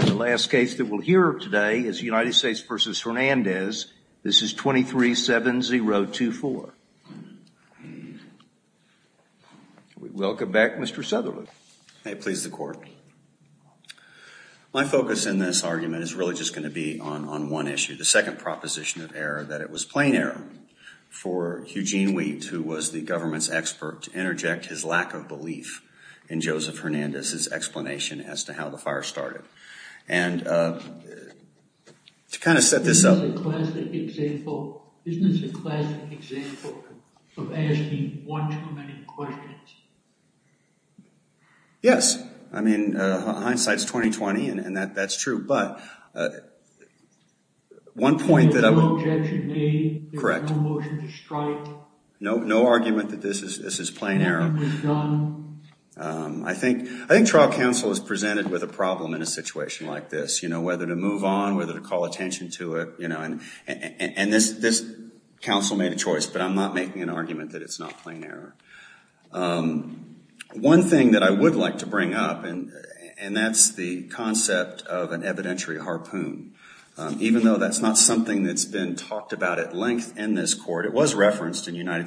this is 23-7-0-2-4. Welcome back Mr. Southerlook. May it please the court. My focus in this argument is really just going to be on one issue, the second proposition of error, that it was plain error for Eugene Wheat, who was the government's expert, to interject his argument about how the fire started. And to kind of set this up. Isn't this a classic example of asking one too many questions? Yes. I mean hindsight's 20-20 and that's true. But one point that I would. There's no objection made. There's no motion to strike. No argument that this is plain error. I think trial counsel is presented with a problem in a situation like this. You know, whether to move on, whether to call attention to it. And this counsel made a choice, but I'm not making an argument that it's not plain error. One thing that I would like to bring up, and that's the concept of an evidentiary harpoon. Even though that's not something that's been talked about at length in this court, it was referenced in other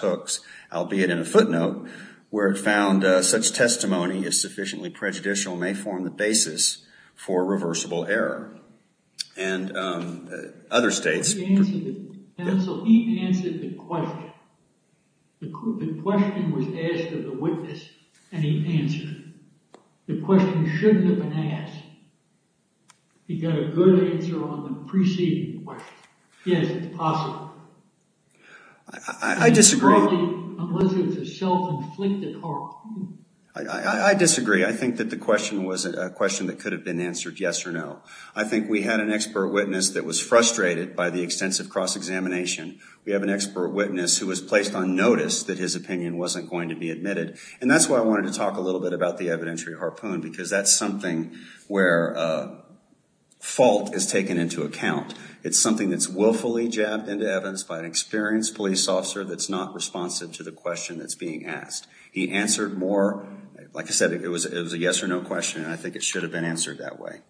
books, albeit in a footnote, where it found such testimony as sufficiently prejudicial may form the basis for reversible error. And other states. So he answered the question. The question was asked of the witness and he answered it. The question shouldn't have been asked. He got a good answer on the preceding question. Yes, it's possible. I disagree. It's a self-inflicted harpoon. I disagree. I think that the question was a question that could have been answered yes or no. I think we had an expert witness that was frustrated by the extensive cross-examination. We have an expert witness who was placed on notice that his opinion wasn't going to be admitted. And that's why I wanted to talk a little bit about the evidentiary harpoon because that's something where fault is taken into account. It's something that's willfully jabbed into evidence by an experienced police officer that's not responsive to the question that's being asked. He answered more, like I said, it was a yes or no question. I think it should have been answered that way.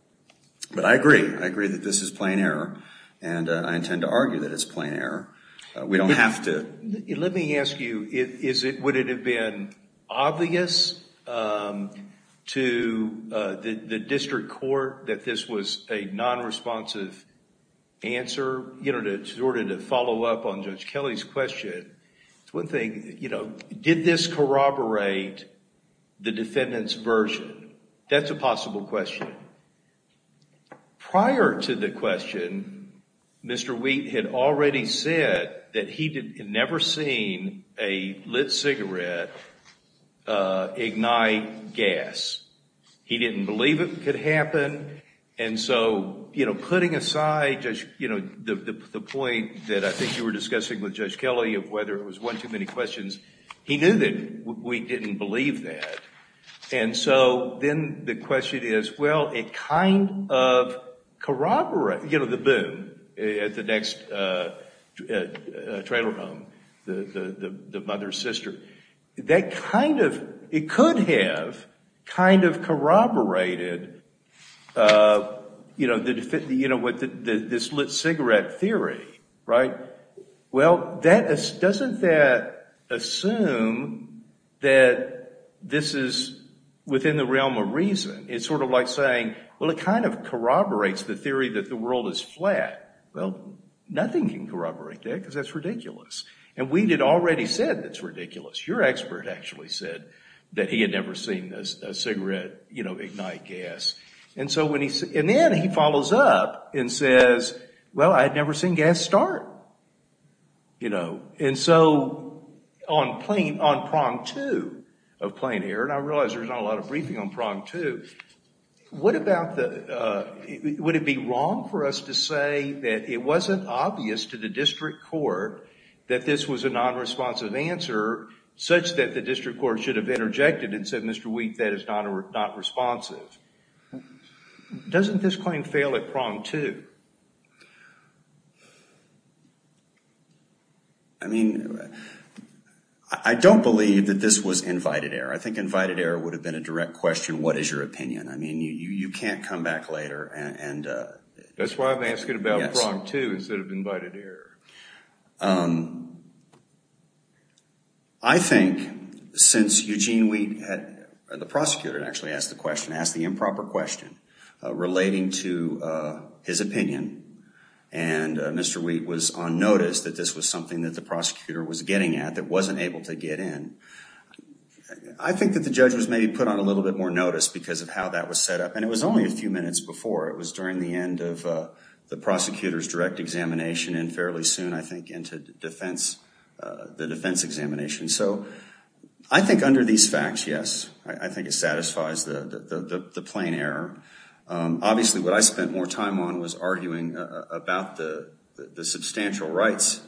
But I agree. I agree that this is plain error. And I intend to argue that it's plain error. We don't have to. Let me ask you, would it have been obvious to the district court that this was a non-responsive answer? In order to follow up on Judge Kelly's question, it's one thing. Did this corroborate the defendant's version? That's a possible question. Prior to the question, Mr. Wheat had already said that he had never seen a lit cigarette ignite gas. He didn't believe it could happen. And so, you know, putting aside the point that I think you were discussing with Judge Kelly of whether it was one too many questions, he knew that we didn't believe that. And so then the question is, well, it kind of corroborated, you know, the boom at the next trailer home, the mother-sister. That kind of, it could have kind of corroborated, you know, this lit cigarette theory, right? Well, doesn't that assume that this is within the realm of reason? It's sort of like saying, well, it kind of corroborates the theory that the world is flat. Well, nothing can corroborate that because that's ridiculous. And Wheat had already said that's ridiculous. Your expert actually said that he had never seen a cigarette, you know, ignite gas. And so when he, and then he follows up and says, well, I had never seen gas start, you know. And so on plane, on prong two of plane error, and I realize there's not a lot of briefing on prong two, what about the, would it be wrong for us to say that it wasn't obvious to the district court that this was a non-responsive answer such that the district court should have interjected and said, Mr. Wheat, that is not responsive. Doesn't this claim fail at prong two? I mean, I don't believe that this was invited error. I think invited error would have been a direct question. What is your opinion? I mean, you can't come back later and. That's why I'm asking about prong two instead of invited error. I think since Eugene Wheat, the prosecutor actually asked the question, asked the improper question relating to his opinion, and Mr. Wheat was on notice that this was something that the prosecutor was getting at that wasn't able to get in. I think that the judge was maybe put on a little bit more notice because of how that was set up. And it was only a few minutes before. It was during the end of the prosecutor's direct examination and fairly soon, I think, into the defense examination. So I think under these facts, yes, I think it satisfies the plain error. Obviously, what I spent more time on was arguing about the substantial rights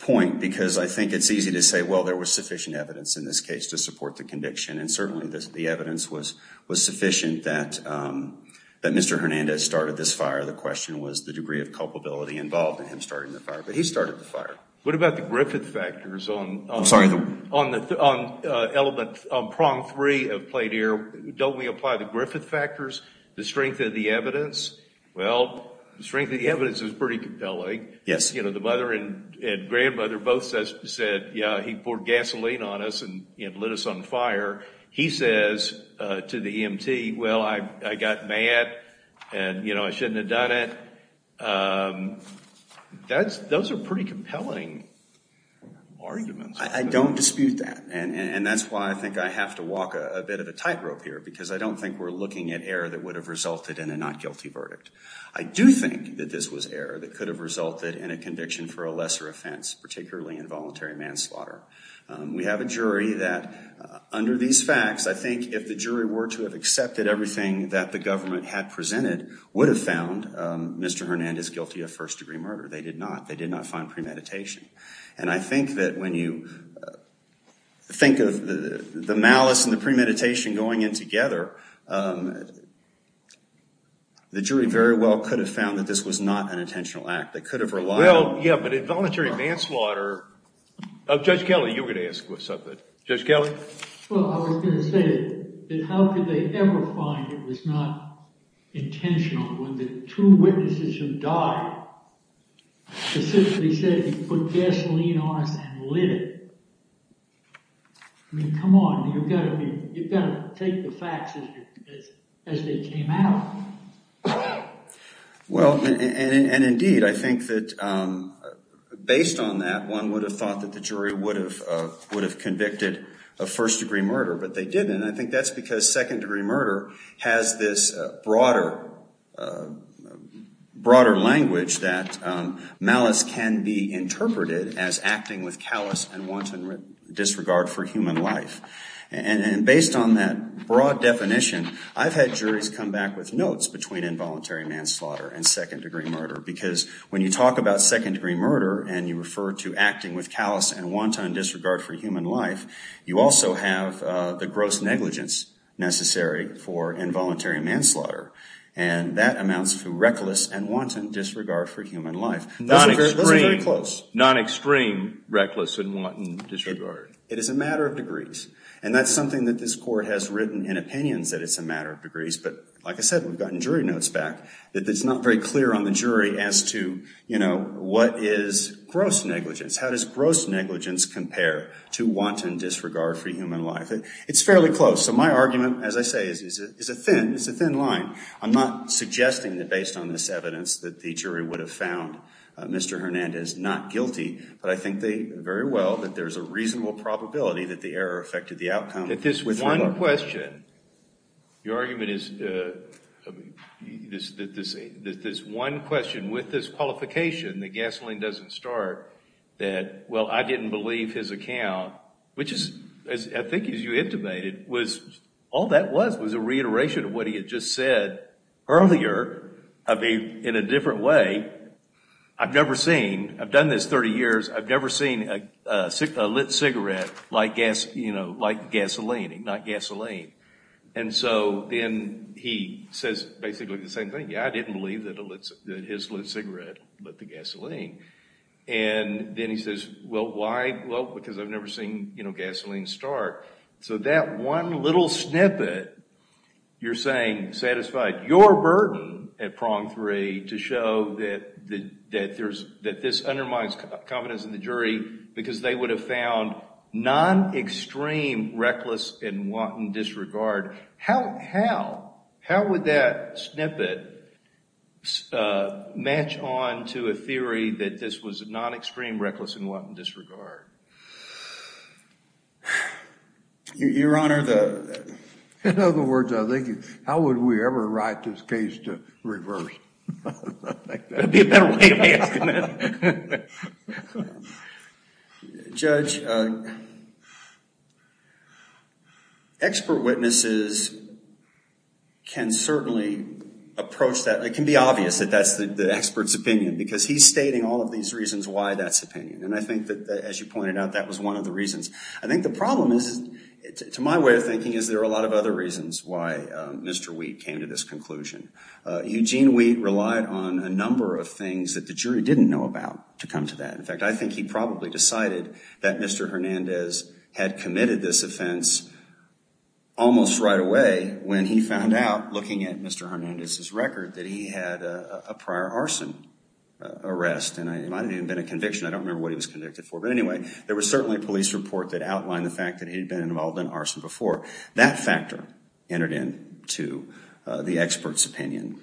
point because I think it's easy to say, well, there was sufficient evidence in this case to support the conviction. And certainly the evidence was sufficient that Mr. Hernandez started this fire. The question was the degree of culpability involved in him starting the fire. But he started the fire. What about the Griffith factors on prong three of plain error? Don't we apply the Griffith factors, the strength of the evidence? Well, the strength of the evidence is pretty compelling. The mother and grandmother both said, yeah, he poured gasoline on us and lit us on fire. He says to the EMT, well, I got mad and I shouldn't have done it. Those are pretty compelling arguments. I don't dispute that. And that's why I think I have to walk a bit of a tightrope here because I don't think we're looking at error that would have resulted in a not guilty verdict. I do think that this was error that could have resulted in a conviction for a lesser offense, particularly involuntary manslaughter. We have a jury that under these facts, I think if the jury were to have accepted everything that the government had presented, would have found Mr. Hernandez guilty of first-degree murder. They did not. They did not find premeditation. And I think that when you think of the malice and the premeditation going in together, the jury very well could have found that this was not an intentional act. They could have relied on- Well, yeah, but involuntary manslaughter- Judge Kelly, you were going to ask something. Judge Kelly? Well, I was going to say that how could they ever find it was not intentional when the two witnesses who died specifically said he put gasoline on us and lit it. I mean, come on, you've got to take the facts as they came out. Well, and indeed, I think that based on that, one would have thought that the jury would have convicted of first-degree murder, but they didn't. And I think that's because second-degree murder has this broader language that malice can be interpreted as acting with callous and wanton disregard for human life. And based on that broad definition, I've had juries come back with notes between involuntary manslaughter and second-degree murder. Because when you talk about second-degree murder and you refer to acting with callous and wanton disregard for human life, you also have the gross negligence necessary for involuntary manslaughter. And that amounts to reckless and wanton disregard for human life. Those are very close. Non-extreme reckless and wanton disregard. It is a matter of degrees. And that's something that this Court has written in opinions that it's a matter of degrees. But like I said, we've gotten jury notes back that it's not very clear on the gross negligence. How does gross negligence compare to wanton disregard for human life? It's fairly close. So my argument, as I say, is a thin line. I'm not suggesting that based on this evidence that the jury would have found Mr. Hernandez not guilty. But I think very well that there's a reasonable probability that the error affected the outcome. This one question, your argument is that this one question with this qualification, that gasoline doesn't start, that, well, I didn't believe his account, which is, I think as you intimated, was, all that was was a reiteration of what he had just said earlier in a different way. I've never seen, I've done this 30 years, I've never seen a lit cigarette like gasoline, not gasoline. And so then he says basically the same thing. Yeah, I didn't believe that his lit cigarette lit the gasoline. And then he says, well, why? Well, because I've never seen gasoline start. So that one little snippet, you're saying, satisfied your burden at prong three to show that this undermines confidence in the jury because they would have found non-extreme reckless and wanton disregard. How, how, how would that snippet match on to a theory that this was non-extreme reckless and wanton disregard? Your Honor, the... In other words, I think, how would we ever write this case to reverse? I don't think that would be a better way of asking that. Judge, expert witnesses can certainly approach that. It can be obvious that that's the expert's opinion because he's stating all of these reasons why that's opinion. And I think that, as you pointed out, that was one of the reasons. I think the problem is, to my way of thinking, is there are a lot of other reasons why Mr. Wheat came to this conclusion. Eugene Wheat relied on a number of things that the jury didn't know about to come to that. In fact, I think he probably decided that Mr. Hernandez had committed this offense almost right away when he found out, looking at Mr. Hernandez's record, that he had a prior arson arrest. And it might have even been a conviction. I don't remember what he was convicted for. But anyway, there was certainly a police report that outlined the fact that he'd been involved in arson before. That factor entered into the expert's opinion.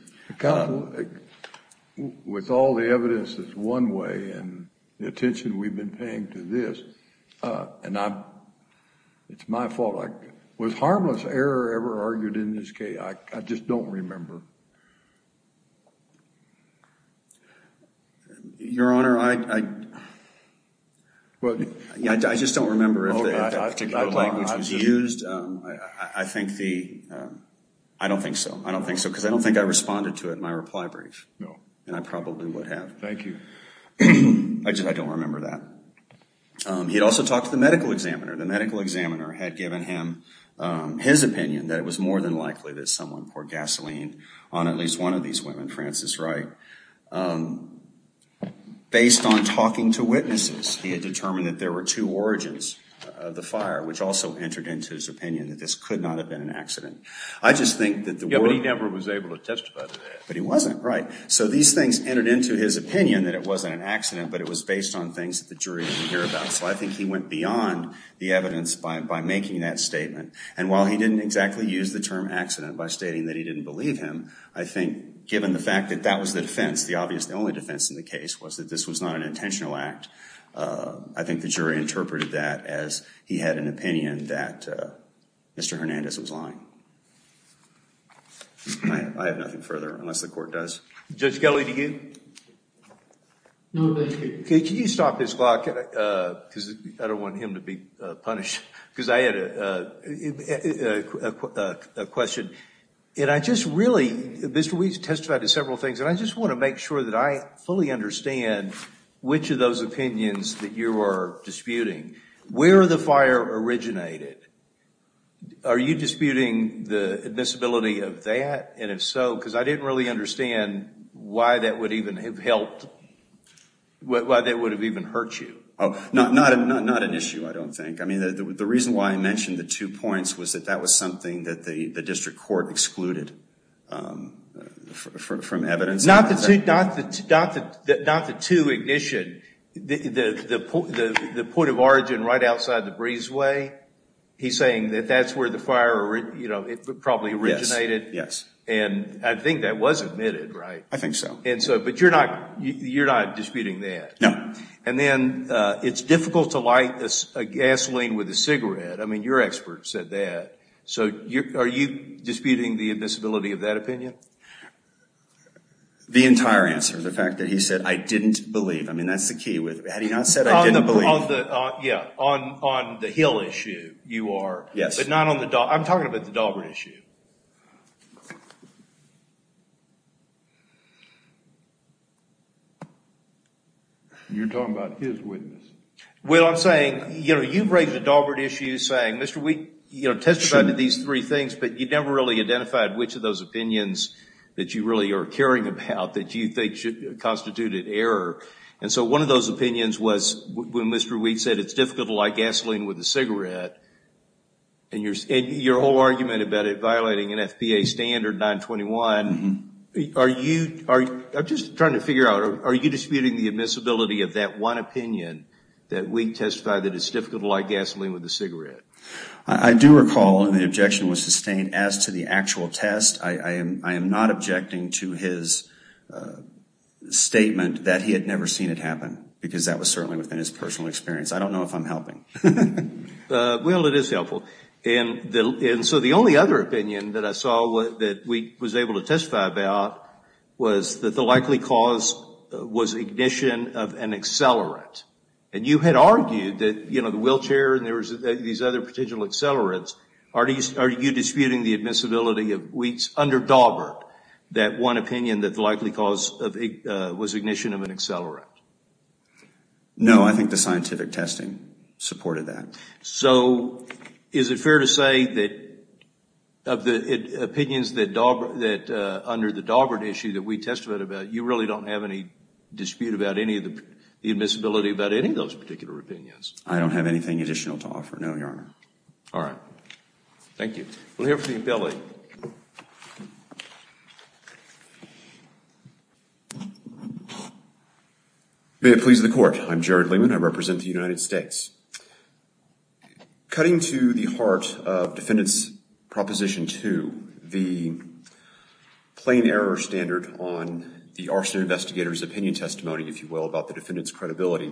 With all the evidence that's one way and the attention we've been paying to this, it's my fault. Was harmless error ever argued in this case? I just don't remember. Your Honor, I just don't remember if that particular language was used. I think the, I don't think so. I don't think so because I don't think I responded to it in my reply brief. No. And I probably would have. Thank you. I just, I don't remember that. He'd also talked to the medical examiner. The medical examiner had given him his opinion that it was more than likely that someone poured gasoline on at least one of these women, Frances Wright. Based on talking to witnesses, he had determined that there were two origins of the fire, which also entered into his opinion that this could not have been an accident. I just think that the. Yeah, but he never was able to testify to that. But he wasn't, right. So these things entered into his opinion that it wasn't an accident, but it was based on things that the jury didn't hear about. So I think he went beyond the evidence by making that statement. And while he didn't exactly use the term accident by stating that he didn't believe him, I think given the fact that that was the defense, the obvious, the only defense in the case was that this was not an intentional act. I think the jury interpreted that as he had an opinion that Mr. Hernandez was lying. I have nothing further, unless the court does. Judge Kelly, do you? No, thank you. Can you stop this clock? Because I don't want him to be punished. Because I had a question. And I just really, Mr. Weiss testified to several things, and I just want to make sure that I understand which of those opinions that you are disputing. Where the fire originated, are you disputing the admissibility of that? And if so, because I didn't really understand why that would even have helped, why that would have even hurt you. Oh, not an issue, I don't think. I mean, the reason why I mentioned the two points was that was something that the district court excluded from evidence. Not the two ignition. The point of origin right outside the breezeway, he's saying that that's where the fire probably originated. Yes. And I think that was admitted, right? I think so. And so, but you're not disputing that? No. And then, it's difficult to light a gasoline with a cigarette. I mean, your expert said that. So, are you disputing the admissibility of that opinion? The entire answer. The fact that he said, I didn't believe. I mean, that's the key with, had he not said, I didn't believe. On the, yeah, on the Hill issue, you are. Yes. But not on the, I'm talking about the Daubert issue. You're talking about his witness. Well, I'm saying, you know, you've raised the Daubert issue saying, Mr. Weiss, you know, testified to these three things, but you've never really identified which of those opinions that you really are caring about that you think should constitute an error. And so, one of those opinions was when Mr. Weiss said, it's difficult to light gasoline with a cigarette, and your whole argument about it violating an FBA standard 921. Are you, I'm just trying to figure out, are you disputing the admissibility of that one opinion that Weiss testified that it's difficult to light gasoline with a cigarette? I do recall, and the objection was sustained as to the actual test. I am not objecting to his statement that he had never seen it happen, because that was certainly within his personal experience. I don't know if I'm helping. Well, it is helpful. And so, the only other opinion that I saw that we was able to testify about was that the likely cause was ignition of an accelerant. And you had argued that, the wheelchair and these other potential accelerants, are you disputing the admissibility of Weiss under Daubert, that one opinion that the likely cause was ignition of an accelerant? No, I think the scientific testing supported that. So, is it fair to say that of the opinions that under the Daubert issue that we testified about, you really don't have any dispute about any of the admissibility about any of those particular opinions? I don't have anything additional to offer, no, Your Honor. All right. Thank you. We'll hear from Billy. May it please the Court. I'm Jared Lehman. I represent the United States. Cutting to the heart of Defendant's Proposition 2, the plain error standard on the arson investigator's opinion testimony, if you will, about the defendant's credibility.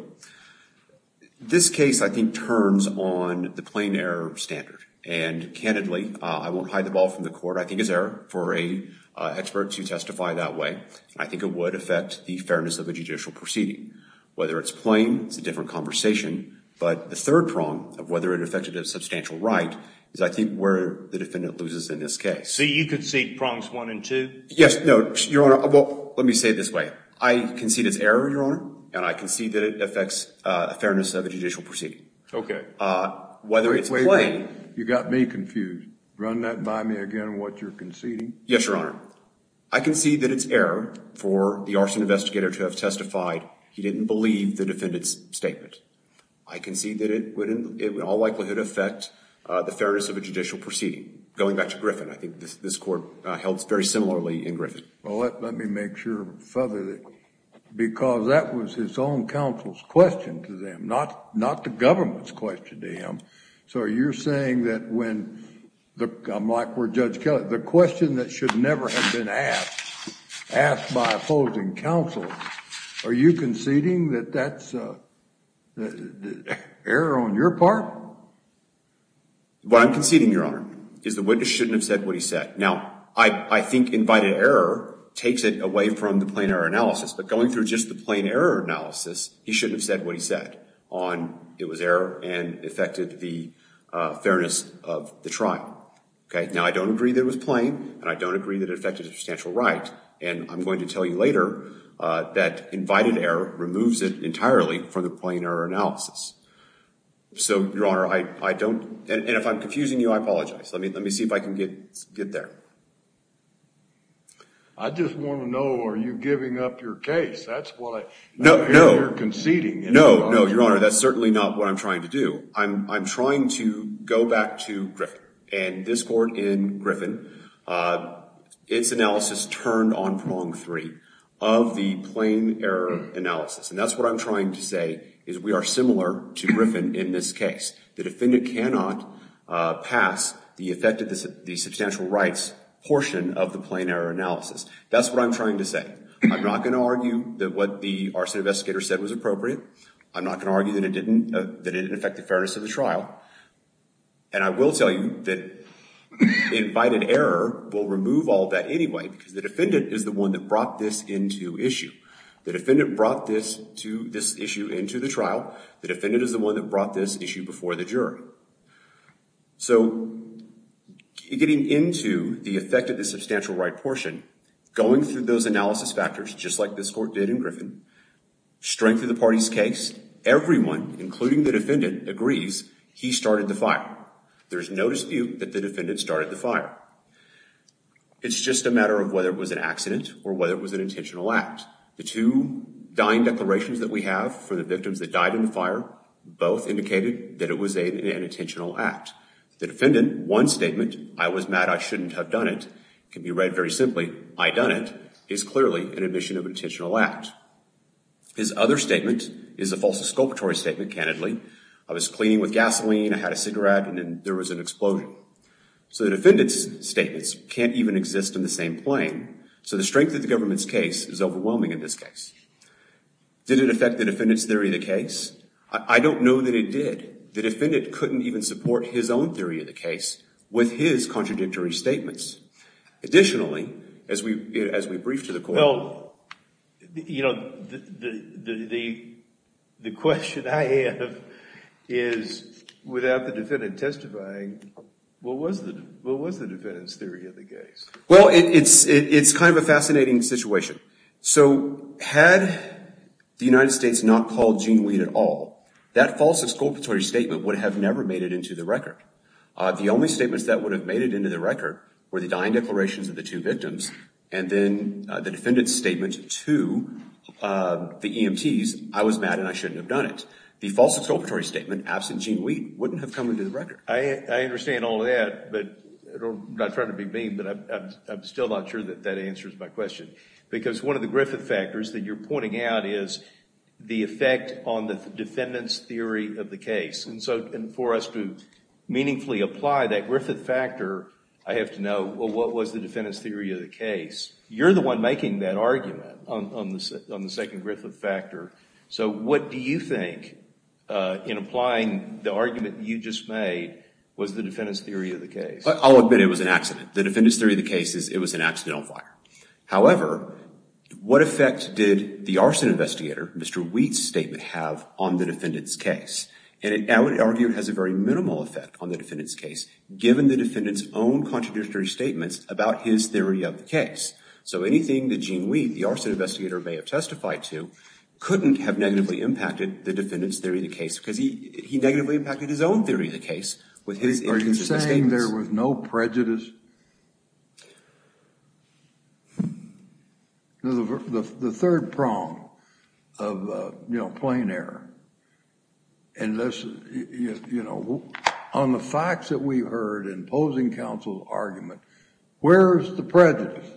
This case, I think, turns on the plain error standard. And candidly, I won't hide the ball from the Court. I think it's error for a expert to testify that way. I think it would affect the fairness of a judicial proceeding. Whether it's plain, it's a different conversation. But the third prong of whether it affected a substantial right is, I think, where the defendant loses in this case. So you concede prongs 1 and 2? Yes. No, Your Honor. Well, let me say it this way. I concede it's error, Your Honor. And I concede that it affects a fairness of a judicial proceeding. Okay. Whether it's plain- You got me confused. Run that by me again, what you're conceding. Yes, Your Honor. I concede that it's error for the arson investigator to have testified he didn't believe the defendant's statement. I concede that it would, in all likelihood, affect the fairness of a judicial proceeding. Going back to Griffin, I think this Court held very similarly in Griffin. Well, let me make sure, Father, because that was his own counsel's question to them, not the government's question to him. So you're saying that when, I'm like where Judge Kelly, the question that should never have been asked by opposing counsel, are you conceding that that's error on your part? What I'm conceding, Your Honor, is the witness shouldn't have said what he said. Now, I think invited error takes it away from the plain error analysis. But going through just the plain error analysis, he shouldn't have said what he said on it was error and affected the fairness of the trial. Okay. Now, I don't agree that it was plain, and I don't agree that it affected a substantial right. And I'm going to tell you later that invited error removes it entirely from the plain error analysis. So, Your Honor, I don't, and if I'm confusing you, I apologize. Let me see if I can get there. I just want to know, are you giving up your case? That's what I hear you're conceding. No, no, Your Honor. That's certainly not what I'm trying to do. I'm trying to go back to Griffin. And this court in Griffin, its analysis turned on prong three of the plain error analysis. And that's what I'm trying to say is we are similar to Griffin in this case. The defendant cannot pass the effect of the substantial rights portion of the plain error analysis. That's what I'm trying to say. I'm not going to argue that what the arson investigator said was appropriate. I'm not going to argue that it didn't affect the fairness of the trial. And I will tell you that invited error will remove all that anyway, because the defendant is the one that brought this into issue. The defendant brought this issue into the trial. The defendant is the one that brought this issue before the jury. So getting into the effect of the substantial right portion, going through those analysis factors, just like this court did in Griffin, strength of the party's case, everyone, including the defendant, agrees he started the fire. There's no dispute that the defendant started the fire. It's just a matter of whether it was an accident or whether it was an intentional act. The two dying declarations that we have for the victims that died in the fire, both indicated that it was an intentional act. The defendant, one statement, I was mad, I shouldn't have done it, can be read very simply, I done it, is clearly an admission of an intentional act. His other statement is a false exculpatory statement, candidly. I was cleaning with gasoline, I had a cigarette, and then there was an explosion. So the defendant's statements can't even exist in the same plane. So the strength of the case is overwhelming in this case. Did it affect the defendant's theory of the case? I don't know that it did. The defendant couldn't even support his own theory of the case with his contradictory statements. Additionally, as we briefed to the court. Well, you know, the question I have is, without the defendant testifying, well, it's kind of a fascinating situation. So had the United States not called Gene Weed at all, that false exculpatory statement would have never made it into the record. The only statements that would have made it into the record were the dying declarations of the two victims and then the defendant's statement to the EMTs, I was mad and I shouldn't have done it. The false exculpatory statement, absent Gene Weed, wouldn't have come into the record. I understand all that, but I'm not trying to be mean, but I'm still not sure that that answers my question. Because one of the Griffith factors that you're pointing out is the effect on the defendant's theory of the case. And so for us to meaningfully apply that Griffith factor, I have to know, well, what was the defendant's theory of the case? You're the one making that argument on the second Griffith factor. So what do you think, in applying the argument you just made, was the defendant's theory of the case? I'll admit it was an accident. The defendant's theory of the case is it was an accident on fire. However, what effect did the arson investigator, Mr. Weed's statement have on the defendant's case? And I would argue it has a very minimal effect on the defendant's case, given the defendant's own contradictory statements about his theory of the case. So anything that Gene Weed, the arson investigator, may have testified to couldn't have negatively impacted the defendant's theory of the case, because he negatively impacted his own theory of the case with his intrusive statements. Are you saying there was no prejudice? The third prong of plain error, and this, you know, on the facts that we've heard in posing counsel's argument, where is the prejudice?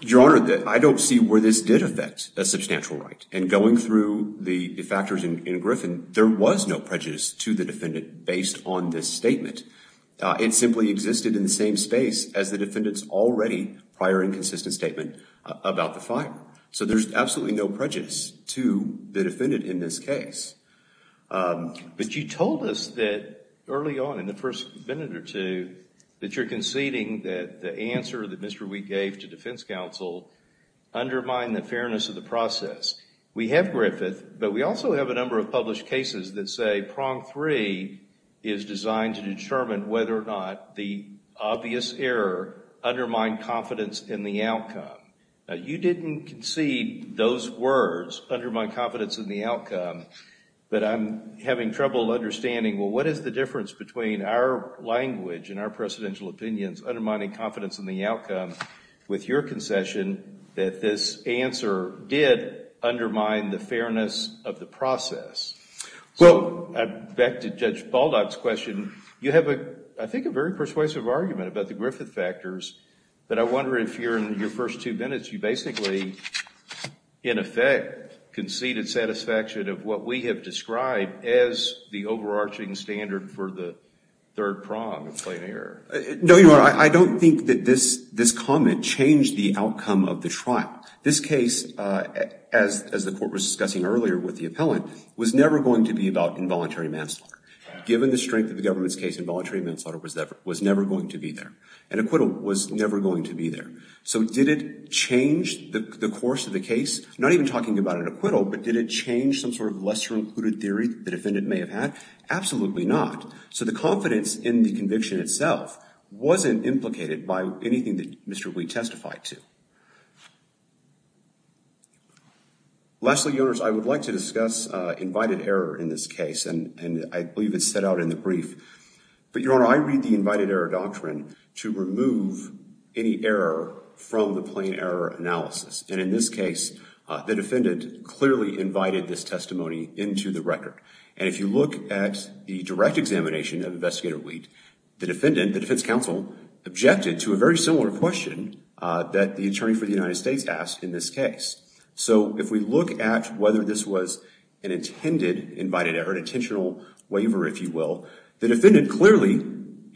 Your Honor, I don't see where this did affect a substantial right. And going through the factors in Griffin, there was no prejudice to the defendant, based on this statement. It simply existed in the same space as the defendant's already prior inconsistent statement about the fire. So there's absolutely no prejudice to the defendant in this case. But you told us that early on, in the first minute or two, that you're conceding that the answer that Mr. Weed gave to defense counsel undermined the fairness of the process. We have Griffith, but we also have a number of published cases that say prong three is designed to determine whether or not the obvious error undermined confidence in the outcome. You didn't concede those words, undermine confidence in the outcome, but I'm having trouble understanding, well, what is the difference between our language and our precedential opinions undermining confidence in the outcome with your concession that this answer did undermine the fairness of the process? Well, back to Judge Baldock's question, you have, I think, a very persuasive argument about the Griffith factors, but I wonder if you're in your first two minutes, you basically, in effect, conceded satisfaction of what we have described as the overarching standard for the third prong of plain error. No, Your Honor. I don't think that this comment changed the outcome of the trial. This case, as the court was discussing earlier with the appellant, was never going to be about involuntary manslaughter. Given the strength of the government's case, involuntary manslaughter was never going to be there. An acquittal was never going to be there. So did it change the course of the case? Not even talking about an acquittal, but did it change some sort of lesser concluded theory the defendant may have had? Absolutely not. So the confidence in the conviction itself wasn't implicated by anything that Mr. Wheat testified to. Lastly, Your Honor, I would like to discuss invited error in this case, and I believe it's set out in the brief. But Your Honor, I read the invited error doctrine to remove any error from the plain error analysis. And in this case, the defendant clearly invited this testimony into the record. And if you look at the direct examination of Investigator Wheat, the defendant, the defense counsel, objected to a very similar question that the attorney for the United States asked in this case. So if we look at whether this was an intended invited error, an intentional waiver, if you will, the defendant clearly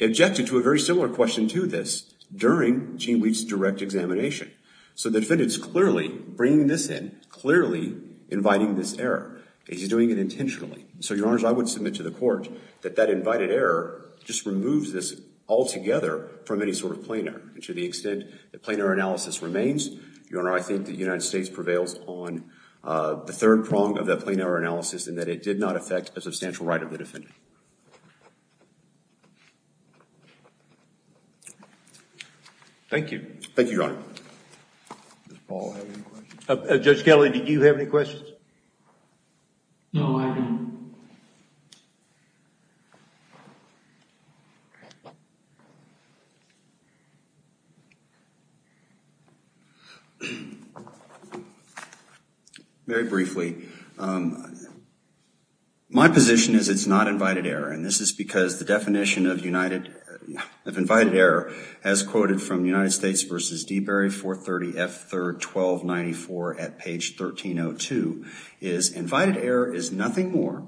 objected to a very similar question to this during Gene Wheat's direct examination. So the defendant's clearly bringing this in, clearly inviting this error. He's doing it intentionally. So Your Honor, I would submit to the court that that invited error just removes this altogether from any sort of plain error. And to the extent that plain error analysis remains, Your Honor, I think the United States prevails on the third prong of that plain error analysis in that it did not affect a substantial right of the defendant. Thank you. Thank you, Your Honor. Does Paul have any questions? Judge Kelley, did you have any questions? No, I didn't. Very briefly, my position is it's not invited error. And this is because the definition of invited error as quoted from United Court 30F third 1294 at page 1302 is invited error is nothing more,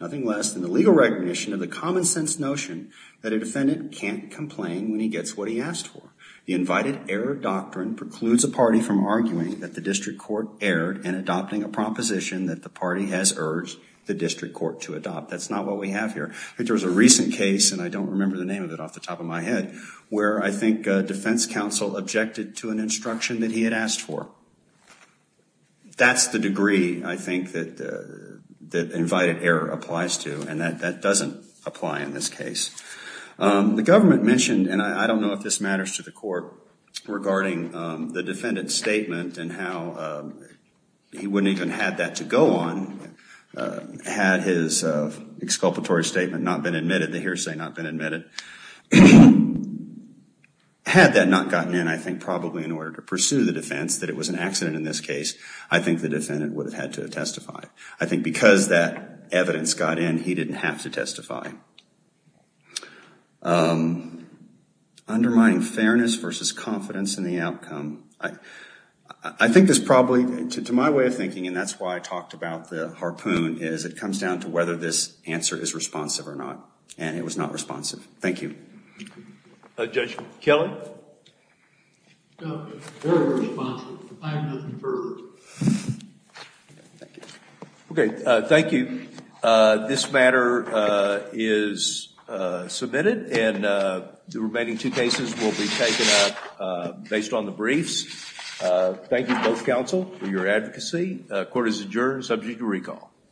nothing less than the legal recognition of the common sense notion that a defendant can't complain when he gets what he asked for. The invited error doctrine precludes a party from arguing that the district court erred in adopting a proposition that the party has urged the district court to adopt. That's not what we have here. I think there was a recent case, and I don't remember the name of it off the asked for. That's the degree, I think, that invited error applies to. And that doesn't apply in this case. The government mentioned, and I don't know if this matters to the court, regarding the defendant's statement and how he wouldn't even have that to go on had his exculpatory statement not been admitted, the hearsay not been admitted. Had that not gotten in, I think, probably in order to pursue the defense that it was an accident in this case, I think the defendant would have had to testify. I think because that evidence got in, he didn't have to testify. Undermining fairness versus confidence in the outcome. I think this probably, to my way of thinking, and that's why I talked about the harpoon, is it comes down to whether this answer is responsive or not. And it was not responsive. Thank you. Judge Kelly? Very responsive. Okay. Thank you. This matter is submitted, and the remaining two cases will be taken up based on the briefs. Thank you, both counsel, for your advocacy. Court is adjourned, subject to recall.